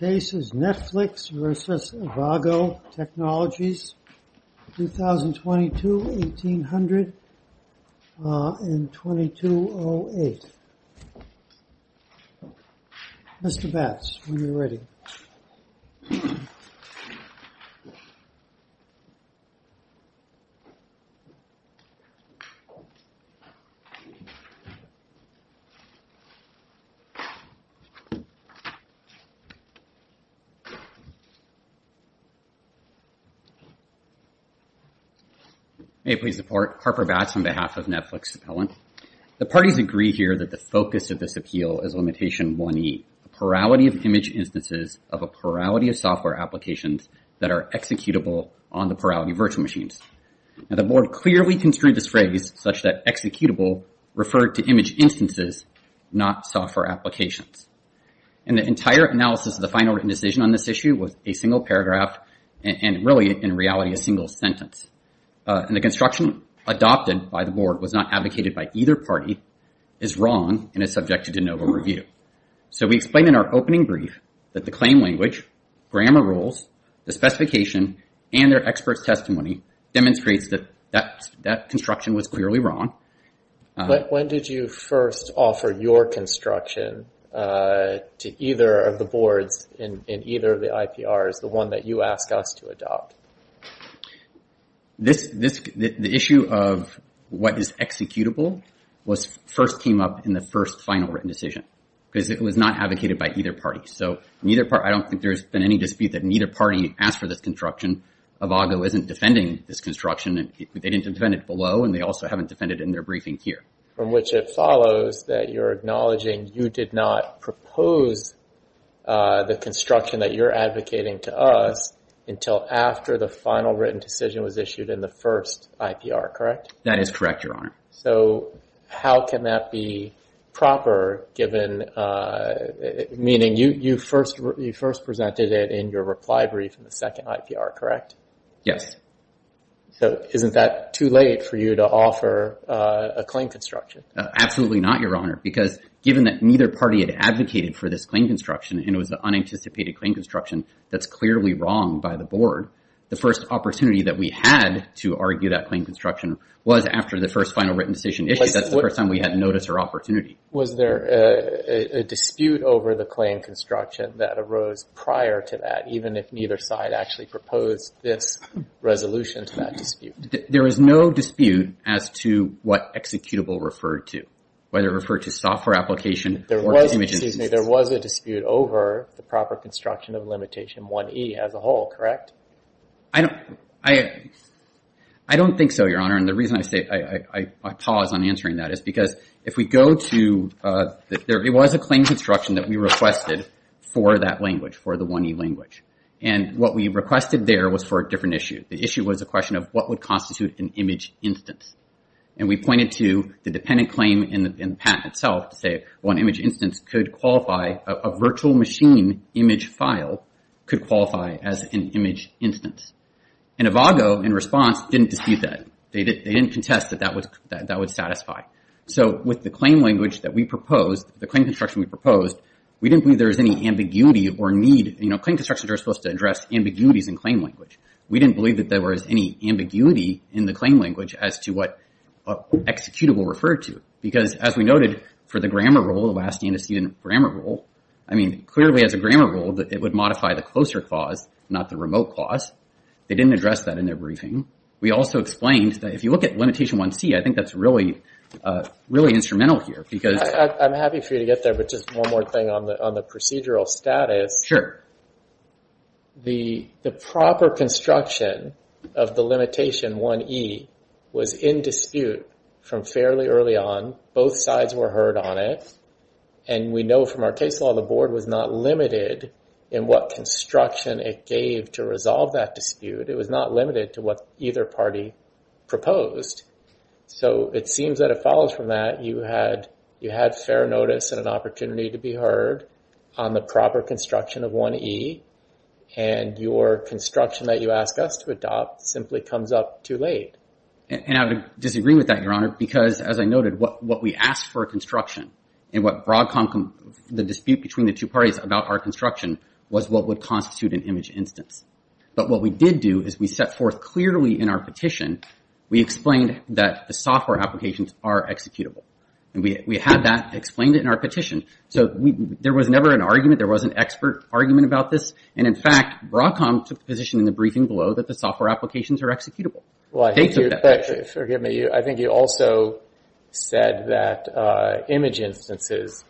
Netflix v. Avago Technologies, 2022, 1800, 2208 Hey, please support. Harper Batts on behalf of Netflix. The parties agree here that the focus of this appeal is limitation 1e, a plurality of image instances of a plurality of software applications that are executable on the plurality of virtual machines. And the board clearly construed this phrase such that executable referred to image instances, not software applications. And the entire analysis of the final written decision on this issue was a single paragraph and really in reality a single sentence. And the construction adopted by the board was not advocated by either party, is wrong and is subject to de novo review. So we explained in our opening brief that the claim language, grammar rules, the specification and their expert's testimony demonstrates that that construction was clearly wrong. When did you first offer your construction to either of the boards in either of the IPRs, the one that you asked us to adopt? The issue of what is executable first came up in the first final written decision because it was not advocated by either party. So I don't think there's been any dispute that neither party asked for this construction. Avago isn't defending this construction. They didn't defend it below and they also haven't defended it in their briefing here. From which it follows that you're acknowledging you did not propose the construction that you're advocating to us until after the final written decision was issued in the first IPR, correct? That is correct, Your Honor. So how can that be proper given, meaning you first presented it in your reply brief in the first final written decision? So isn't that too late for you to offer a claim construction? Absolutely not, Your Honor, because given that neither party had advocated for this claim construction and it was an unanticipated claim construction that's clearly wrong by the board, the first opportunity that we had to argue that claim construction was after the first final written decision issue. That's the first time we had noticed her opportunity. Was there a dispute over the claim construction that arose prior to that, even if neither side actually proposed this resolution to that dispute? There is no dispute as to what executable referred to, whether it referred to software application or image. There was a dispute over the proper construction of limitation 1e as a whole, correct? I don't think so, Your Honor, and the reason I say I pause on answering that is because if we go to, it was a claim construction that we requested for that language, for the 1e language. And what we requested there was for a different issue. The issue was a question of what would constitute an image instance. And we pointed to the dependent claim in the patent itself to say, one image instance could qualify, a virtual machine image file could qualify as an image instance. And Avago, in response, didn't dispute that. They didn't contest that that would satisfy. So with the claim language that we proposed, the claim construction we proposed, we didn't believe there was any ambiguity or need. You know, claim constructions are supposed to address ambiguities in claim language. We didn't believe that there was any ambiguity in the claim language as to what executable referred to. Because as we noted for the grammar rule, the last antecedent grammar rule, I mean, clearly as a grammar rule, it would modify the closer clause, not the remote clause. They didn't address that in their briefing. We also explained that if you look at limitation 1c, I think that's really, really instrumental here because... I'm happy for you to get there, but just one more thing on the procedural status. The proper construction of the limitation 1e was in dispute from fairly early on. Both sides were heard on it. And we know from our case law, the board was not limited in what construction it gave to resolve that dispute. It was not limited to what either party proposed. So it seems that it follows from that. You had fair notice and an opportunity to be heard on the proper construction of 1e. And your construction that you ask us to adopt simply comes up too late. And I'm disagreeing with that, Your Honor, because as I noted, what we asked for construction and what brought the dispute between the two parties about our construction was what would constitute an image instance. But what we did do is we set forth clearly in our petition, we explained that the software applications are executable. And we had explained it in our petition. So there was never an argument. There was an expert argument about this. And in fact, Broadcom took the position in the briefing below that the software applications are executable. Well, I think you also said that image instances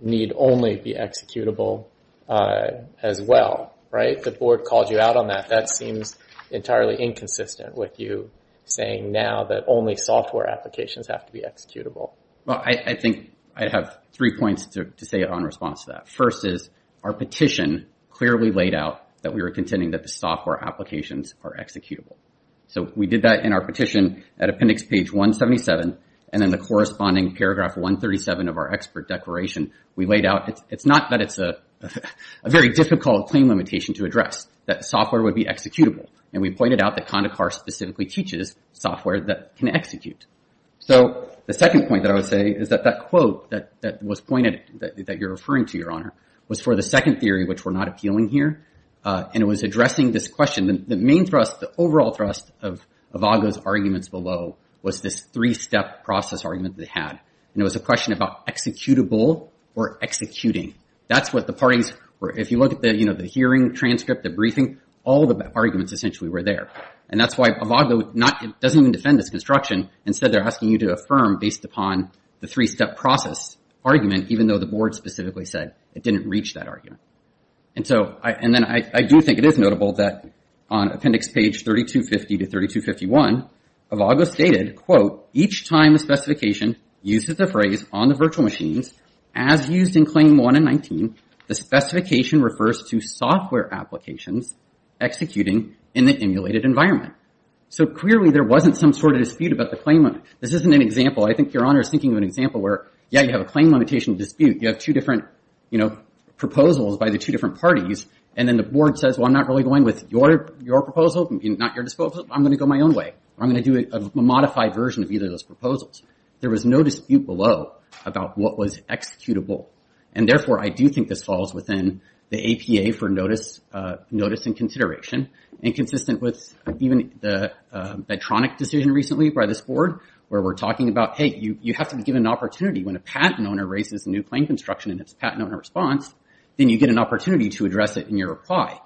need only be executable as well, right? The board called you out on that. That seems entirely inconsistent with you saying now that only software applications have to be executable. Well, I think I have three points to say it on response to that. First is our petition clearly laid out that we were contending that the software applications are executable. So we did that in our petition at Appendix Page 177. And then the corresponding paragraph 137 of our expert declaration we laid out. It's not that it's a very difficult claim limitation to address, that software would be executable. And we pointed out that Condacar specifically teaches software that can execute. So the second point that I would say is that that quote that was pointed, that you're referring to, Your Honor, was for the second theory, which we're not appealing here. And it was addressing this question. The main thrust, the overall thrust of Agha's arguments below was this three-step process argument they had. And it was a question about executable or executing. That's what the parties were. If you look at the, the hearing transcript, the briefing, all the arguments essentially were there. And that's why Agha doesn't even defend this construction. Instead, they're asking you to affirm based upon the three-step process argument, even though the board specifically said it didn't reach that argument. And so, and then I do think it is notable that on Appendix Page 3250 to 3251, Agha stated, quote, Each time a specification uses the phrase on the virtual machines, as used in Claim 1 and 19, the specification refers to software applications executing in the emulated environment. So clearly, there wasn't some sort of dispute about the claim limit. This isn't an example. I think Your Honor is thinking of an example where, yeah, you have a claim limitation dispute. You have two different, you know, proposals by the two different parties. And then the board says, well, I'm not really going with your, your proposal, not your disposal. I'm going to go my own way. I'm going to do a modified version of either of those proposals. There was no dispute below about what was executable. And therefore, I do think this falls within the APA for notice, notice and consideration and consistent with even the Medtronic decision recently by this board, where we're talking about, hey, you, you have to be given an opportunity when a patent owner raises a new claim construction and it's a patent owner response, then you get an opportunity to address it in your reply.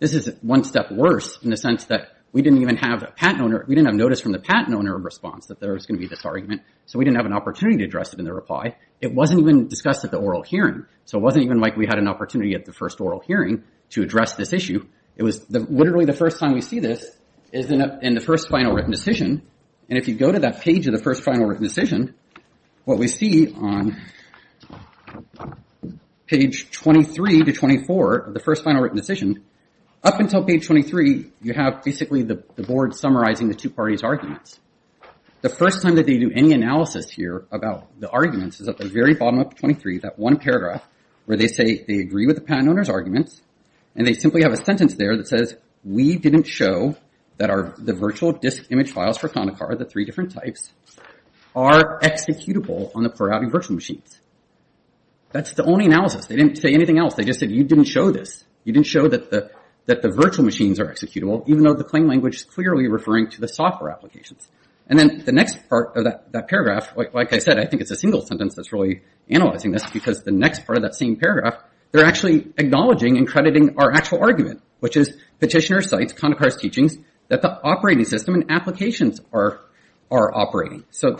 This is one step worse in the sense that we didn't even have a patent owner. We didn't have notice from the patent owner response that there was going to be this argument. So we didn't have an opportunity to address it in the reply. It wasn't even discussed at the oral hearing. So it wasn't even like we had an opportunity at the first oral hearing to address this issue. It was literally the first time we see this is in the first final written decision. And if you go to that page of the first final written decision, what we see on page 23 to 24 of the first final written decision, up until page 23, you have basically the board summarizing the two parties' arguments. The first time that they do any analysis here about the arguments is at the very bottom of 23, that one paragraph where they say they agree with the patent owner's arguments. And they simply have a sentence there that says, we didn't show that our, the virtual disk image files for Connacar, the three different types, are executable on the Perotti virtual machines. That's the only analysis. They didn't say anything else. They just said, you didn't show this. You didn't show that the, that the virtual machines are executable, even though the claim language is clearly referring to the software applications. And then the next part of that paragraph, like I said, I think it's a single sentence that's really analyzing this because the next part of that same paragraph, they're actually acknowledging and crediting our actual argument, which is petitioner cites Connacar's teachings that the operating system and applications are operating. So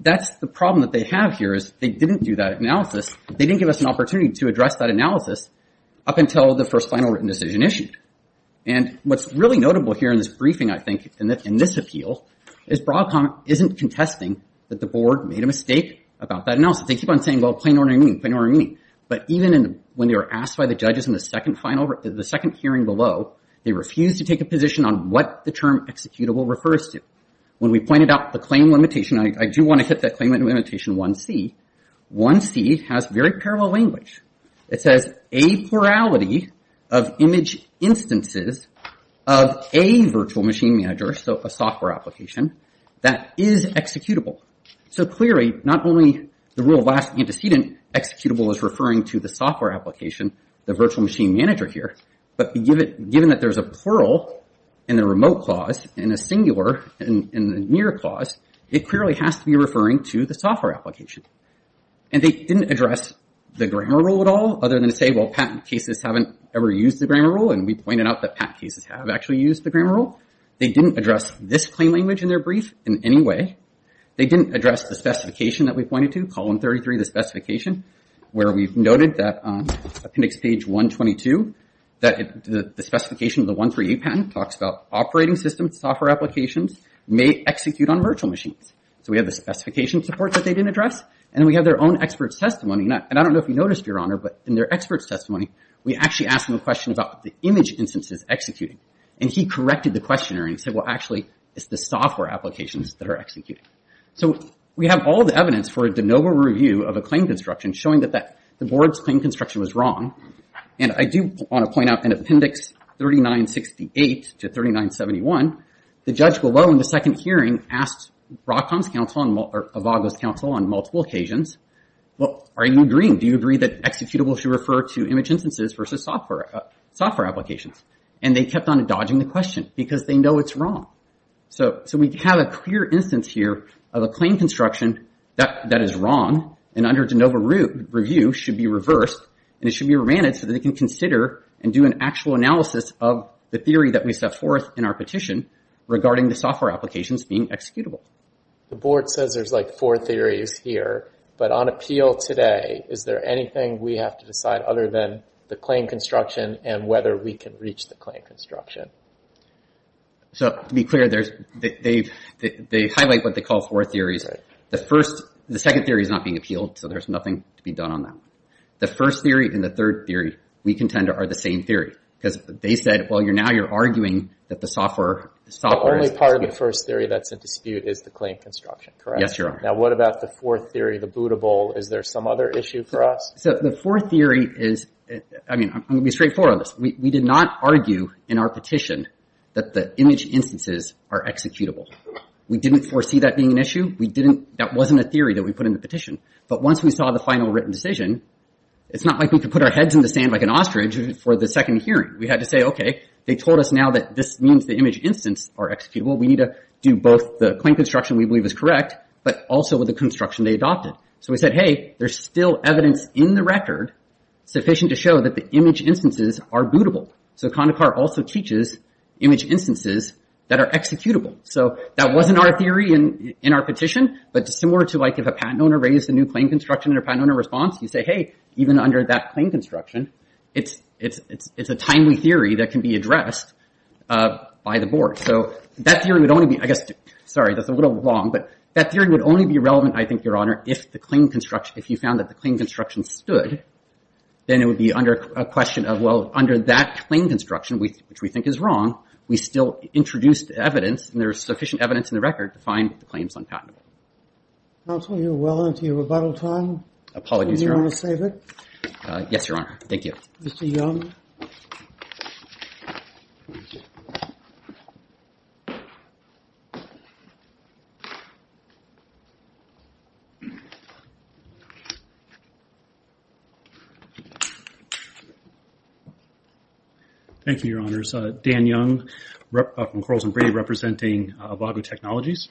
that's the problem that they have here is they didn't do that analysis. They didn't give us an opportunity to address that And what's really notable here in this briefing, I think, in this appeal, is Broadcom isn't contesting that the board made a mistake about that analysis. They keep on saying, well, plain ordinary meaning, plain ordinary meaning. But even when they were asked by the judges in the second final, the second hearing below, they refused to take a position on what the term executable refers to. When we pointed out the claim limitation, I do want to hit that claim limitation 1C. 1C has very parallel language. It says a plurality of image instances of a virtual machine manager, so a software application, that is executable. So clearly not only the rule of last antecedent executable is referring to the software application, the virtual machine manager here, but given that there's a plural in the remote clause and a singular in the near clause, it clearly has to be referring to the software application. And they didn't address the grammar rule at all, other than to say, well, patent cases haven't ever used the grammar rule, and we pointed out that patent cases have actually used the grammar rule. They didn't address this claim language in their brief in any way. They didn't address the specification that we pointed to, column 33, the specification, where we've noted that on appendix page 122, that the specification of the 138 patent talks about operating systems, software applications may execute on virtual machines. So we have the specification support that they didn't address, and we have their own expert's testimony. And I don't know if you noticed, Your Honor, but in their expert's testimony, we actually asked them a question about the image instances executed, and he corrected the questioner and said, well, actually, it's the software applications that are executed. So we have all the evidence for a de novo review of a claim construction showing that the board's claim construction was wrong, and I do want to point out in appendix 3968 to 3971, the judge below in the second hearing asked Avago's counsel on multiple occasions, well, are you agreeing? Do you agree that executable should refer to image instances versus software applications? And they kept on dodging the question, because they know it's wrong. So we have a clear instance here of a claim construction that is wrong, and under de novo review should be reversed, and it should be remanded so that they can consider and do an actual analysis of the theory that we set forth in our petition regarding the software applications being executable. The board says there's like four theories here, but on appeal today, is there anything we have to decide other than the claim construction and whether we can reach the claim construction? So to be clear, they highlight what they call four theories. The second theory is not being appealed, so there's nothing to be done on that one. The first theory and the third theory we contend are the same theory, because they said, well, now you're arguing that the software is executable. The only part of the first theory that's in dispute is the claim construction, correct? Yes, Your Honor. Now what about the fourth theory, the bootable? Is there some other issue for us? So the fourth theory is, I mean, I'm going to be straightforward on this. We did not argue in our petition that the image instances are executable. We didn't foresee that being an issue. That wasn't a theory that we put in the petition. But once we saw the final written decision, it's not like we can put our heads in the sand like an ostrich for the second hearing. We had to say, okay, they told us now that this means the image instance are executable. We need to do both the claim construction we believe is correct, but also with the construction they adopted. So we said, hey, there's still evidence in the record sufficient to show that the image instances are bootable. So Condacar also teaches image instances that are executable. So that wasn't our theory in our petition, but similar to like if a patent owner raised a new claim construction and a patent owner responds, you say, hey, even under that claim construction, it's a timely theory that can be addressed by the board. So that theory would only be, I guess, sorry, that's a little long, but that theory would only be relevant, I think, Your Honor, if the claim construction, if you found that the claim construction stood, then it would be under a question of, well, under that claim construction, which we think is wrong, we still introduced evidence and there's sufficient evidence in the record to find the claims unpatentable. Counsel, you're well into your rebuttal time. Apologies, Your Honor. Do you want to save it? Yes, Your Honor. Thank you. Mr. Young. Thank you, Your Honors. Dan Young from Corals & Brady representing Avago Technologies.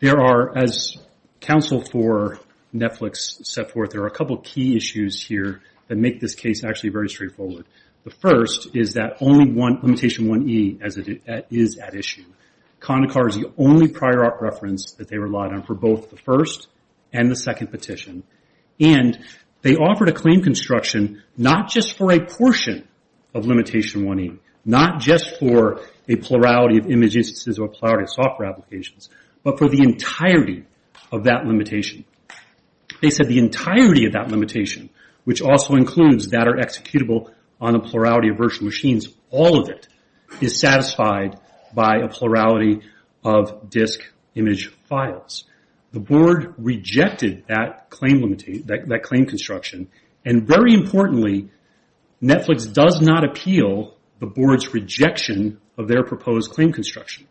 There are, as counsel for Netflix set forth, there are a couple of key issues here that make this case actually very straightforward. The first is that only one, Limitation 1E, is at issue. CONACAR is the only prior art reference that they relied on for both the first and the second petition, and they offered a claim construction not just for a portion of Limitation 1E, not just for a plurality of image instances or a plurality of software applications, but for the entirety of that limitation. They said the entirety of that limitation, which also includes that are executable on a plurality of virtual machines, all of it is satisfied by a plurality of disk image files. The board rejected that claim construction, and very importantly, Netflix does not appeal the board's rejection of their proposed claim construction.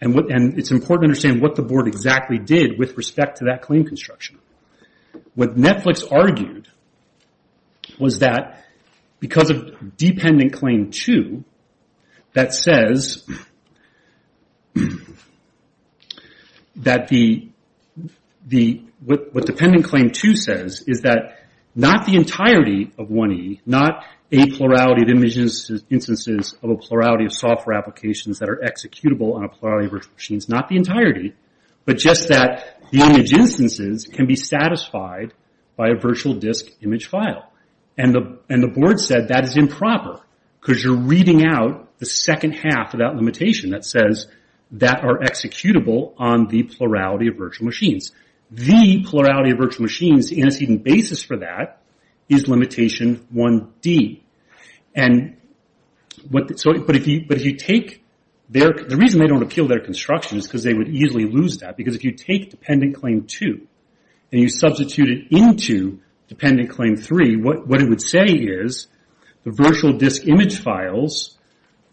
It's important to understand what the board exactly did with respect to that claim construction. What Netflix argued was that because of Dependent Claim 2, what Dependent Claim 2 says is that not the entirety of 1E, not a plurality of image instances or a plurality of software applications that are executable on a plurality of virtual machines, not the entirety, but just that the image instances can be satisfied by a virtual disk image file. The board said that is improper, because you're reading out the second half of that limitation that says that are executable on the plurality of virtual machines. The plurality of virtual machines in its even basis for that is Limitation 1D. The reason they don't appeal their construction is because they would easily lose that, because if you take Dependent Claim 2 and you substitute it into Dependent Claim 3, what it would say is the virtual disk image files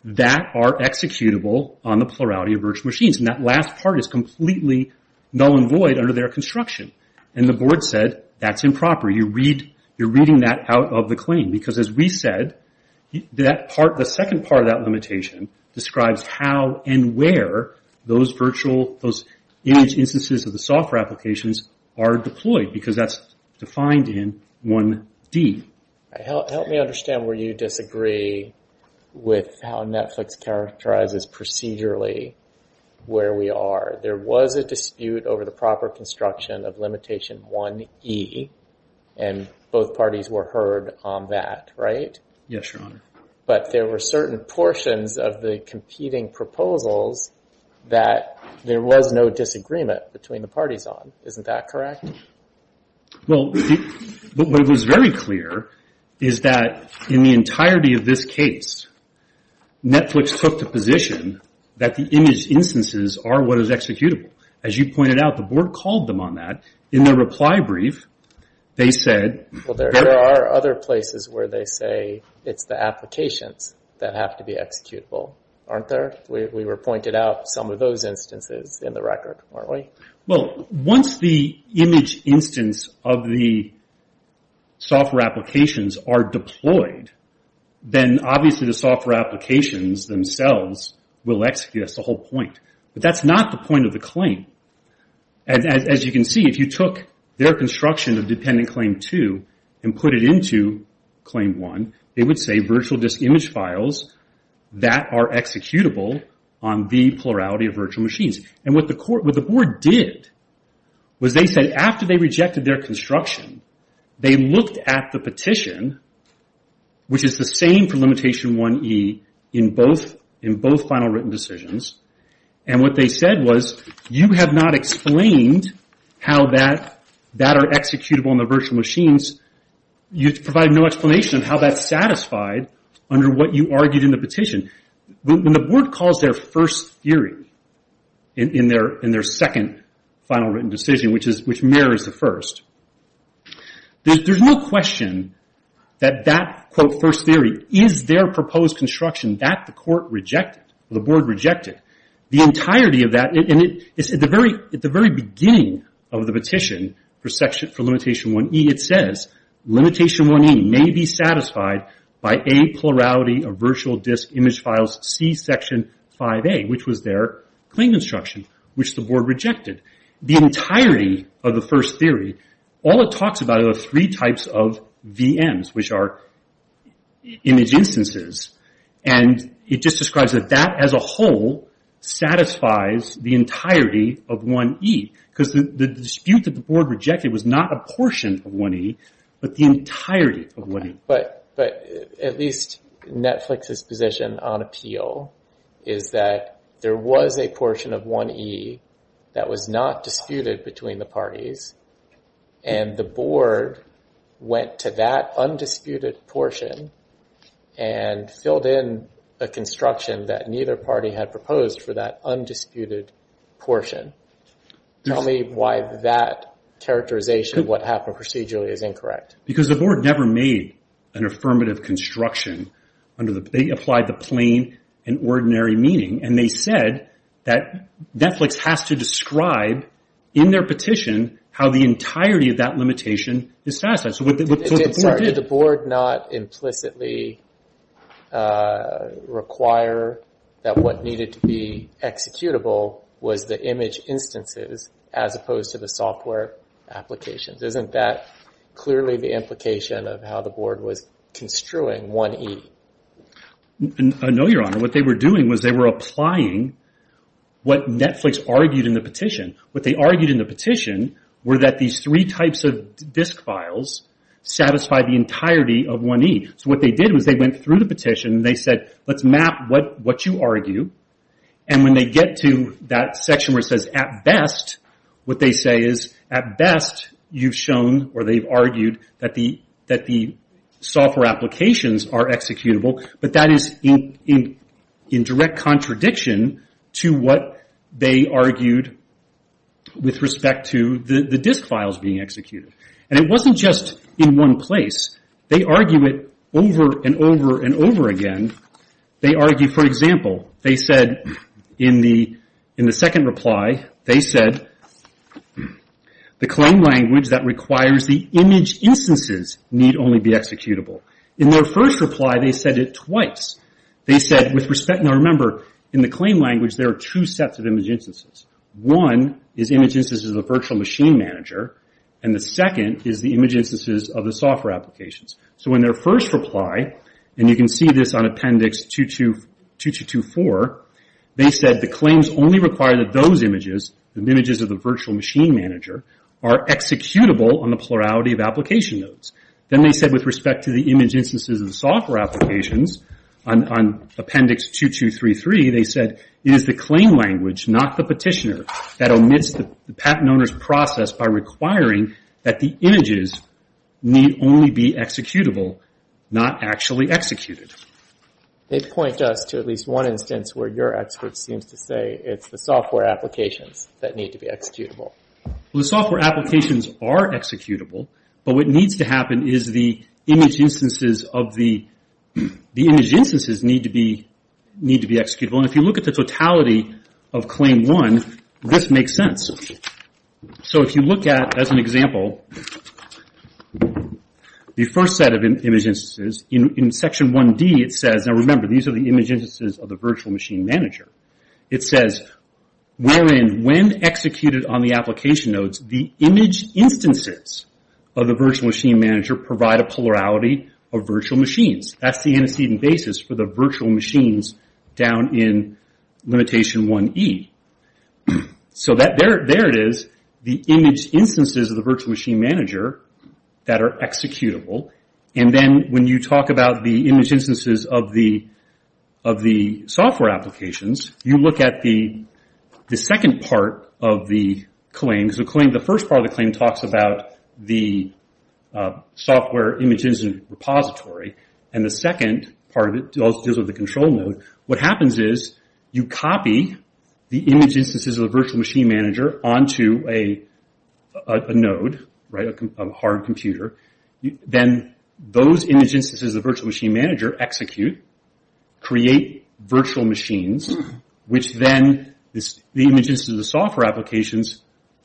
that are executable on the plurality of virtual machines. That last part is completely null and void under their construction. The board said that's a Dependent Claim, because as we said, the second part of that limitation describes how and where those virtual, those image instances of the software applications are deployed, because that's defined in 1D. Help me understand where you disagree with how Netflix characterizes procedurally where we are. There was a dispute over the proper construction of Limitation 1E, and both parties were heard on that, but there were certain portions of the competing proposals that there was no disagreement between the parties on. Isn't that correct? What was very clear is that in the entirety of this case, Netflix took the position that the image instances are what is executable. As you pointed out, the board called them on that. In their reply brief, they said... There are other places where they say it's the applications that have to be executable, aren't there? We were pointed out some of those instances in the record, weren't we? Once the image instance of the software applications are deployed, then obviously the software applications themselves will execute us the whole point. That's not the point of the claim. As you can see, if you took their construction of Dependent Claim 2 and put it into Claim 1, it would say virtual disk image files that are executable on the plurality of virtual machines. What the board did was they said after they rejected their construction, they looked at the petition, which is the same for Limitation 1E in both final written decisions. What they said was, you have not explained how that are executable on the virtual machines. You provide no explanation of how that's satisfied under what you argued in the petition. When the board calls their first theory in their second final written decision, which mirrors the first, there's no question that that, quote, first theory is their proposed construction that the board rejected. The entirety of that, at the very beginning of the petition for Limitation 1E, it says Limitation 1E may be satisfied by A, plurality of virtual disk image files, C, Section 5A, which was their claim construction, which the board rejected. The entirety of the first theory, all it talks about are the three types of VMs, which are image instances. It just describes that that as a whole satisfies the entirety of 1E, because the dispute that the board rejected was not a portion of 1E, but the entirety of 1E. But at least Netflix's position on appeal is that there was a portion of 1E that was not disputed between the parties, and the board went to that undisputed portion and filled in a construction that neither party had proposed for that undisputed portion. Tell me why that characterization of what happened procedurally is incorrect. Because the board never made an affirmative construction. They applied the plain and ordinary meaning, and they said that Netflix has to describe in their petition how the entirety of that limitation is satisfied. Did the board not implicitly require that what needed to be executable was the image instances as opposed to the software applications? Isn't that clearly the implication of how the board was construing 1E? No, Your Honor. What they were doing was they were applying what Netflix argued in the petition. What they argued in the petition were that these three types of disk files satisfy the entirety of 1E. So what they did was they went through the petition, and they said, let's map what you argue. And when they get to that section where it says, at best, what they say is, at best, you've shown or they've argued that the software applications are executable, but that is in direct contradiction to what they argued in the petition. With respect to the disk files being executed. And it wasn't just in one place. They argue it over and over and over again. They argue, for example, they said in the second reply, they said, the claim language that requires the image instances need only be executable. In their first reply, they said it twice. They said, with respect, now remember, in the claim language there are two sets of image instances. One is image instances of the virtual machine manager, and the second is the image instances of the software applications. So in their first reply, and you can see this on Appendix 2224, they said the claims only require that those images, the images of the virtual machine manager, are executable on the plurality of application nodes. Then they said with respect to the image instances of the software applications, on Appendix 2233, they said, it is the claim language, not the petitioner, that omits the patent owner's process by requiring that the images need only be executable, not actually executed. They point us to at least one instance where your expert seems to say it's the software applications that need to be executable. The software applications are executable, but what needs to happen is the image instances of the image instances need to be executable. If you look at the totality of Claim 1, this makes sense. So if you look at, as an example, the first set of image instances, in Section 1D it says, now remember, these are the image instances of the virtual machine manager. It says, wherein when executed on the application nodes, the image instances of the virtual machine manager provide a plurality of virtual machines. That's the antecedent basis for the virtual machines down in Limitation 1E. So there it is, the image instances of the virtual machine manager that are executable. And then when you talk about the image instances of the software applications, you look at the second part of the claims. The first part of the claim talks about the software applications repository, and the second part of it deals with the control node. What happens is you copy the image instances of the virtual machine manager onto a node, a hard computer. Then those image instances of the virtual machine manager execute, create virtual machines, which then the image instances of the software applications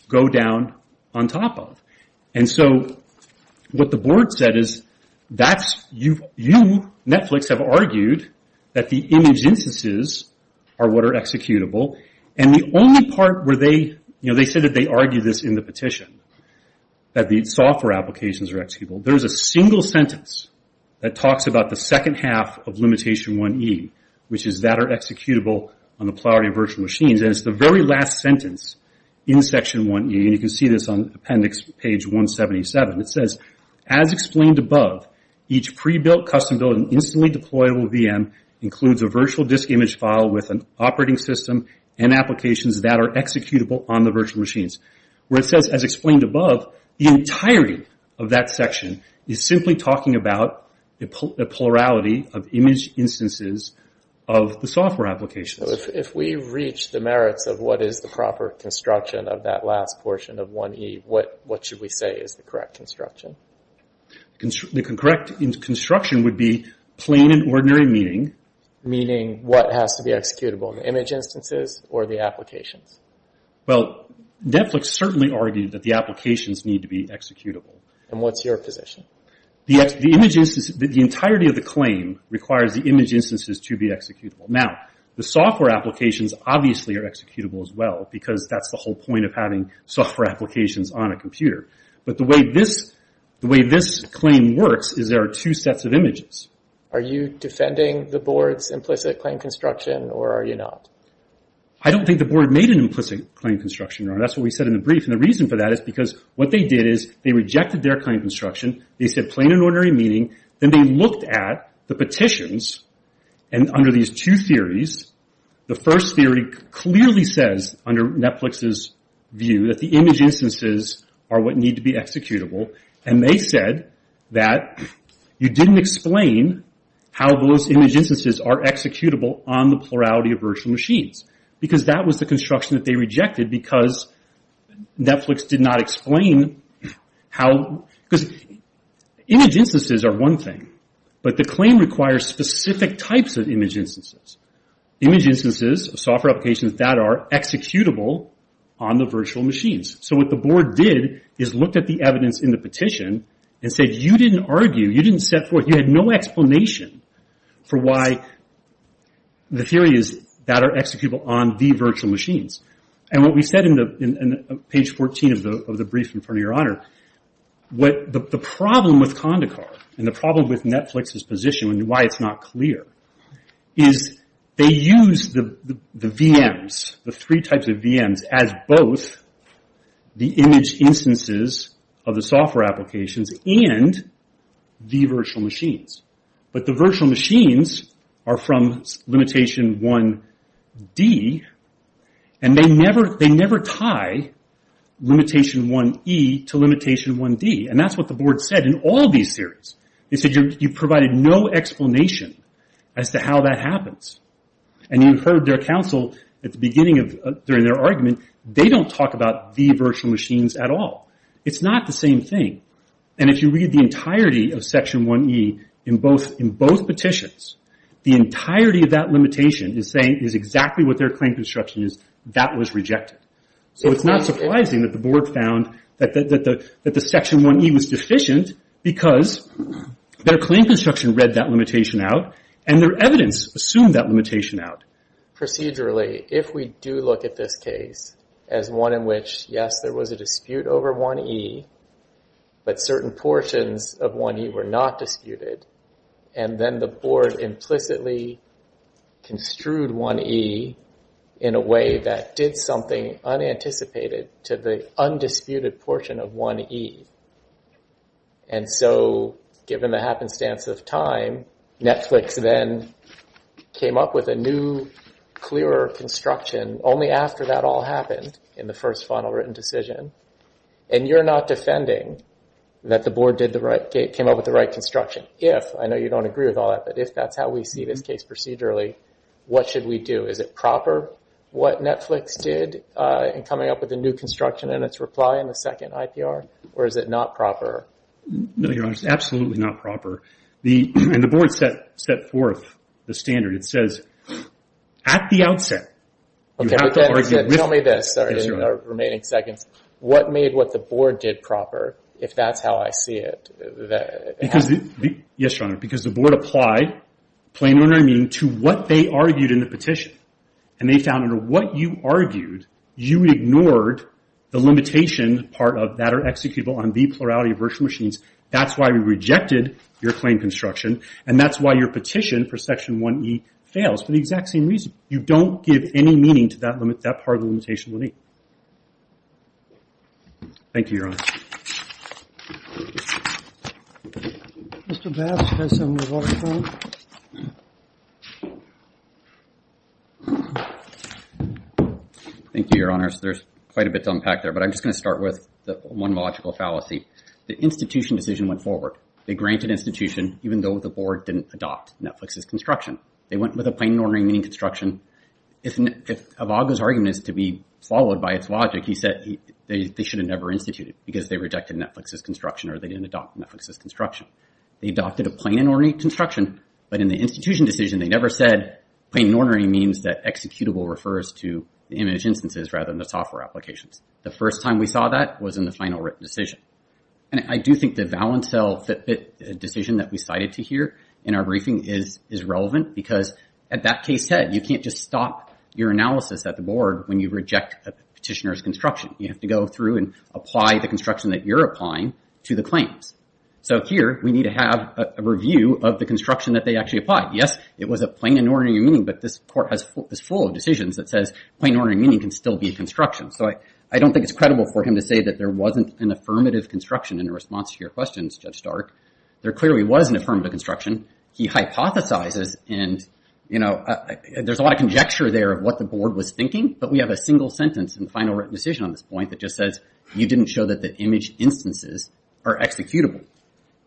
go down on top of. And so what the board said is, you, Netflix, have argued that the image instances are what are executable, and the only part where they, you know, they said that they argued this in the petition, that the software applications are executable. There's a single sentence that talks about the second half of Limitation 1E, which is that are executable on the plurality of virtual machines, and it's the very last sentence in Section 1E, and you can see this on Appendix Page 177. It says, as explained above, each pre-built, custom-built, and instantly deployable VM includes a virtual disk image file with an operating system and applications that are executable on the virtual machines. Where it says, as explained above, the entirety of that section is simply talking about the plurality of image instances of the software applications. So if we reach the merits of what is the proper construction of that last portion of 1E, what should we say is the correct construction? The correct construction would be plain and ordinary meaning. Meaning what has to be executable, the image instances or the applications? Well, Netflix certainly argued that the applications need to be executable. And what's your position? The image instances, the entirety of the claim requires the image instances to be executable. Now, the software applications obviously are executable as well, because that's the whole point of having software applications on a computer. But the way this claim works is there are two sets of images. Are you defending the Board's implicit claim construction, or are you not? I don't think the Board made an implicit claim construction. That's what we said in the brief. And the reason for that is because what they did is they rejected their claim construction, they said plain and ordinary meaning, then they looked at the petitions, and under these two theories, the first theory clearly says under Netflix's view that the image instances are what need to be executable, and they said that you didn't explain how those image instances are executable on the plurality of virtual machines. Because that was the construction that they rejected because Netflix did not explain how because image instances are one thing, but the claim requires specific types of image instances. Image instances of software applications that are executable on the virtual machines. So what the Board did is looked at the evidence in the petition and said you didn't argue, you didn't set forth, you had no explanation for why the theory is that are executable on the virtual machines. And what we said in page 14 of the brief in front of your honor, the problem with Condacard, and the problem with Netflix's position and why it's not clear, is they use the VMs, the three types of VMs, as both the image instances of the software applications and the virtual machines. But the virtual machines are from limitation 1D, and they never tie limitation 1E to limitation 1D, and that's what the Board said in all these theories. They said you provided no explanation as to how that happens, and you heard their counsel at the beginning of their argument, they don't talk about the virtual machines at all. It's not the same thing. And if you read the entirety of section 1E in both petitions, the entirety of that limitation is saying is exactly what their claim construction is, that was rejected. So it's not surprising that the Board found that the section 1E was deficient because their claim construction read that limitation out, and their evidence assumed that limitation out. Procedurally, if we do look at this case as one in which, yes, there was a dispute over 1E, but certain portions of 1E were not disputed, and then the Board implicitly construed 1E in a way that did something unanticipated to the undisputed portion of 1E. And so, given the happenstance of time, Netflix then came up with a new, clearer construction only after that all happened in the first final written decision, and you're not defending that the Board came up with the right construction, if, I know you don't agree with all that, but if that's how we see this case procedurally, what should we do? Is it proper what Netflix did in coming up with the new construction and its reply in the second IPR, or is it not proper? No, Your Honor, it's absolutely not proper. And the Board set forth the standard, it says, at the outset, you have to argue with... Tell me this, sorry, in the remaining seconds, what made what the Board did proper, if that's how I see it? Yes, Your Honor, because the Board applied, plain and unerring, to what they argued in the petition, and they found under what you argued, you ignored the limitation part of that, that are executable on the plurality of virtual machines, that's why we rejected your claim construction, and that's why your petition for Section 1E fails, for the exact same reason. You don't give any meaning to that part of the limitation we'll need. Thank you, Your Honor. Mr. Bass, do you have something to walk us through? Thank you, Your Honor, there's quite a bit to unpack there, but I'm just going to start with one logical fallacy. The institution decision went forward, they granted institution, even though the Board didn't adopt Netflix's construction. They went with a plain and unerring meaning construction, if Avago's argument is to be followed by its logic, he said they should have never instituted, because they rejected Netflix's construction, or they didn't adopt Netflix's construction. They adopted a plain and unerring construction, but in the institution decision, they never said plain and unerring means that executable refers to image instances, rather than the software applications. The first time we saw that was in the final written decision. And I do think the Valencel Fitbit decision that we cited to here in our briefing is relevant, because as that case said, you can't just stop your analysis at the Board when you reject a petitioner's construction. You have to go through and apply the construction that you're applying to the claims. So here, we need to have a review of the construction that they actually applied. Yes, it was a plain and unerring meaning, but this Court is full of decisions that says plain and unerring meaning can still be a construction. So I don't think it's credible for him to say that there wasn't an affirmative construction in response to your questions, Judge Stark. There clearly was an affirmative construction. He hypothesizes, and there's a lot of conjecture there of what the Board was thinking, but we have a single sentence in the final written decision on this point that just says you didn't show that the image instances are executable.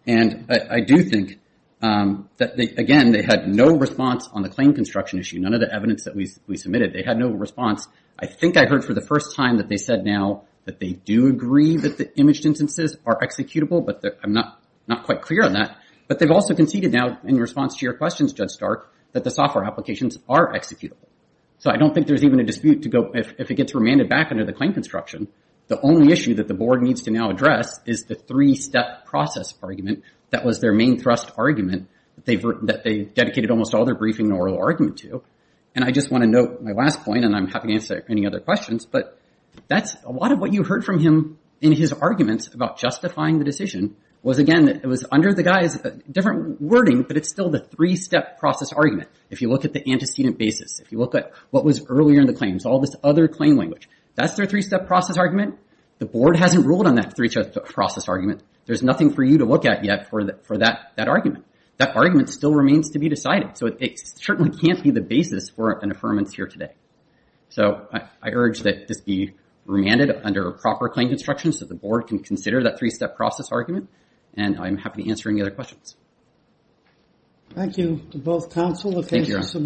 And I do think that, again, they had no response on the claim construction issue. None of the evidence that we submitted, they had no response. I think I heard for the first time that they said now that they do agree that the imaged instances are executable, but I'm not quite clear on that. But they've also conceded now in response to your questions, Judge Stark, that the software applications are executable. So I don't think there's even a dispute if it gets remanded back under the claim construction. The only issue that the Board needs to now address is the three-step process argument that was their main thrust argument that they dedicated almost all their briefing and oral argument to. And I just want to note my last point, and I'm happy to answer any other questions, but that's a lot of what you heard from him in his arguments about justifying the decision was again, it was under the guy's different wording, but it's still the three-step process argument. If you look at the antecedent basis, if you look at what was earlier in the claims, all this other claim language, that's their three-step process argument. The Board hasn't ruled on that three-step process argument. There's nothing for you to look at yet for that argument. That argument still remains to be decided. So it certainly can't be the basis for an affirmance here today. So I urge that this be remanded under proper claim construction so the Board can consider that three-step process argument, and I'm happy to answer any other questions. Thank you to both counsel and thank you to the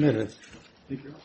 submitters.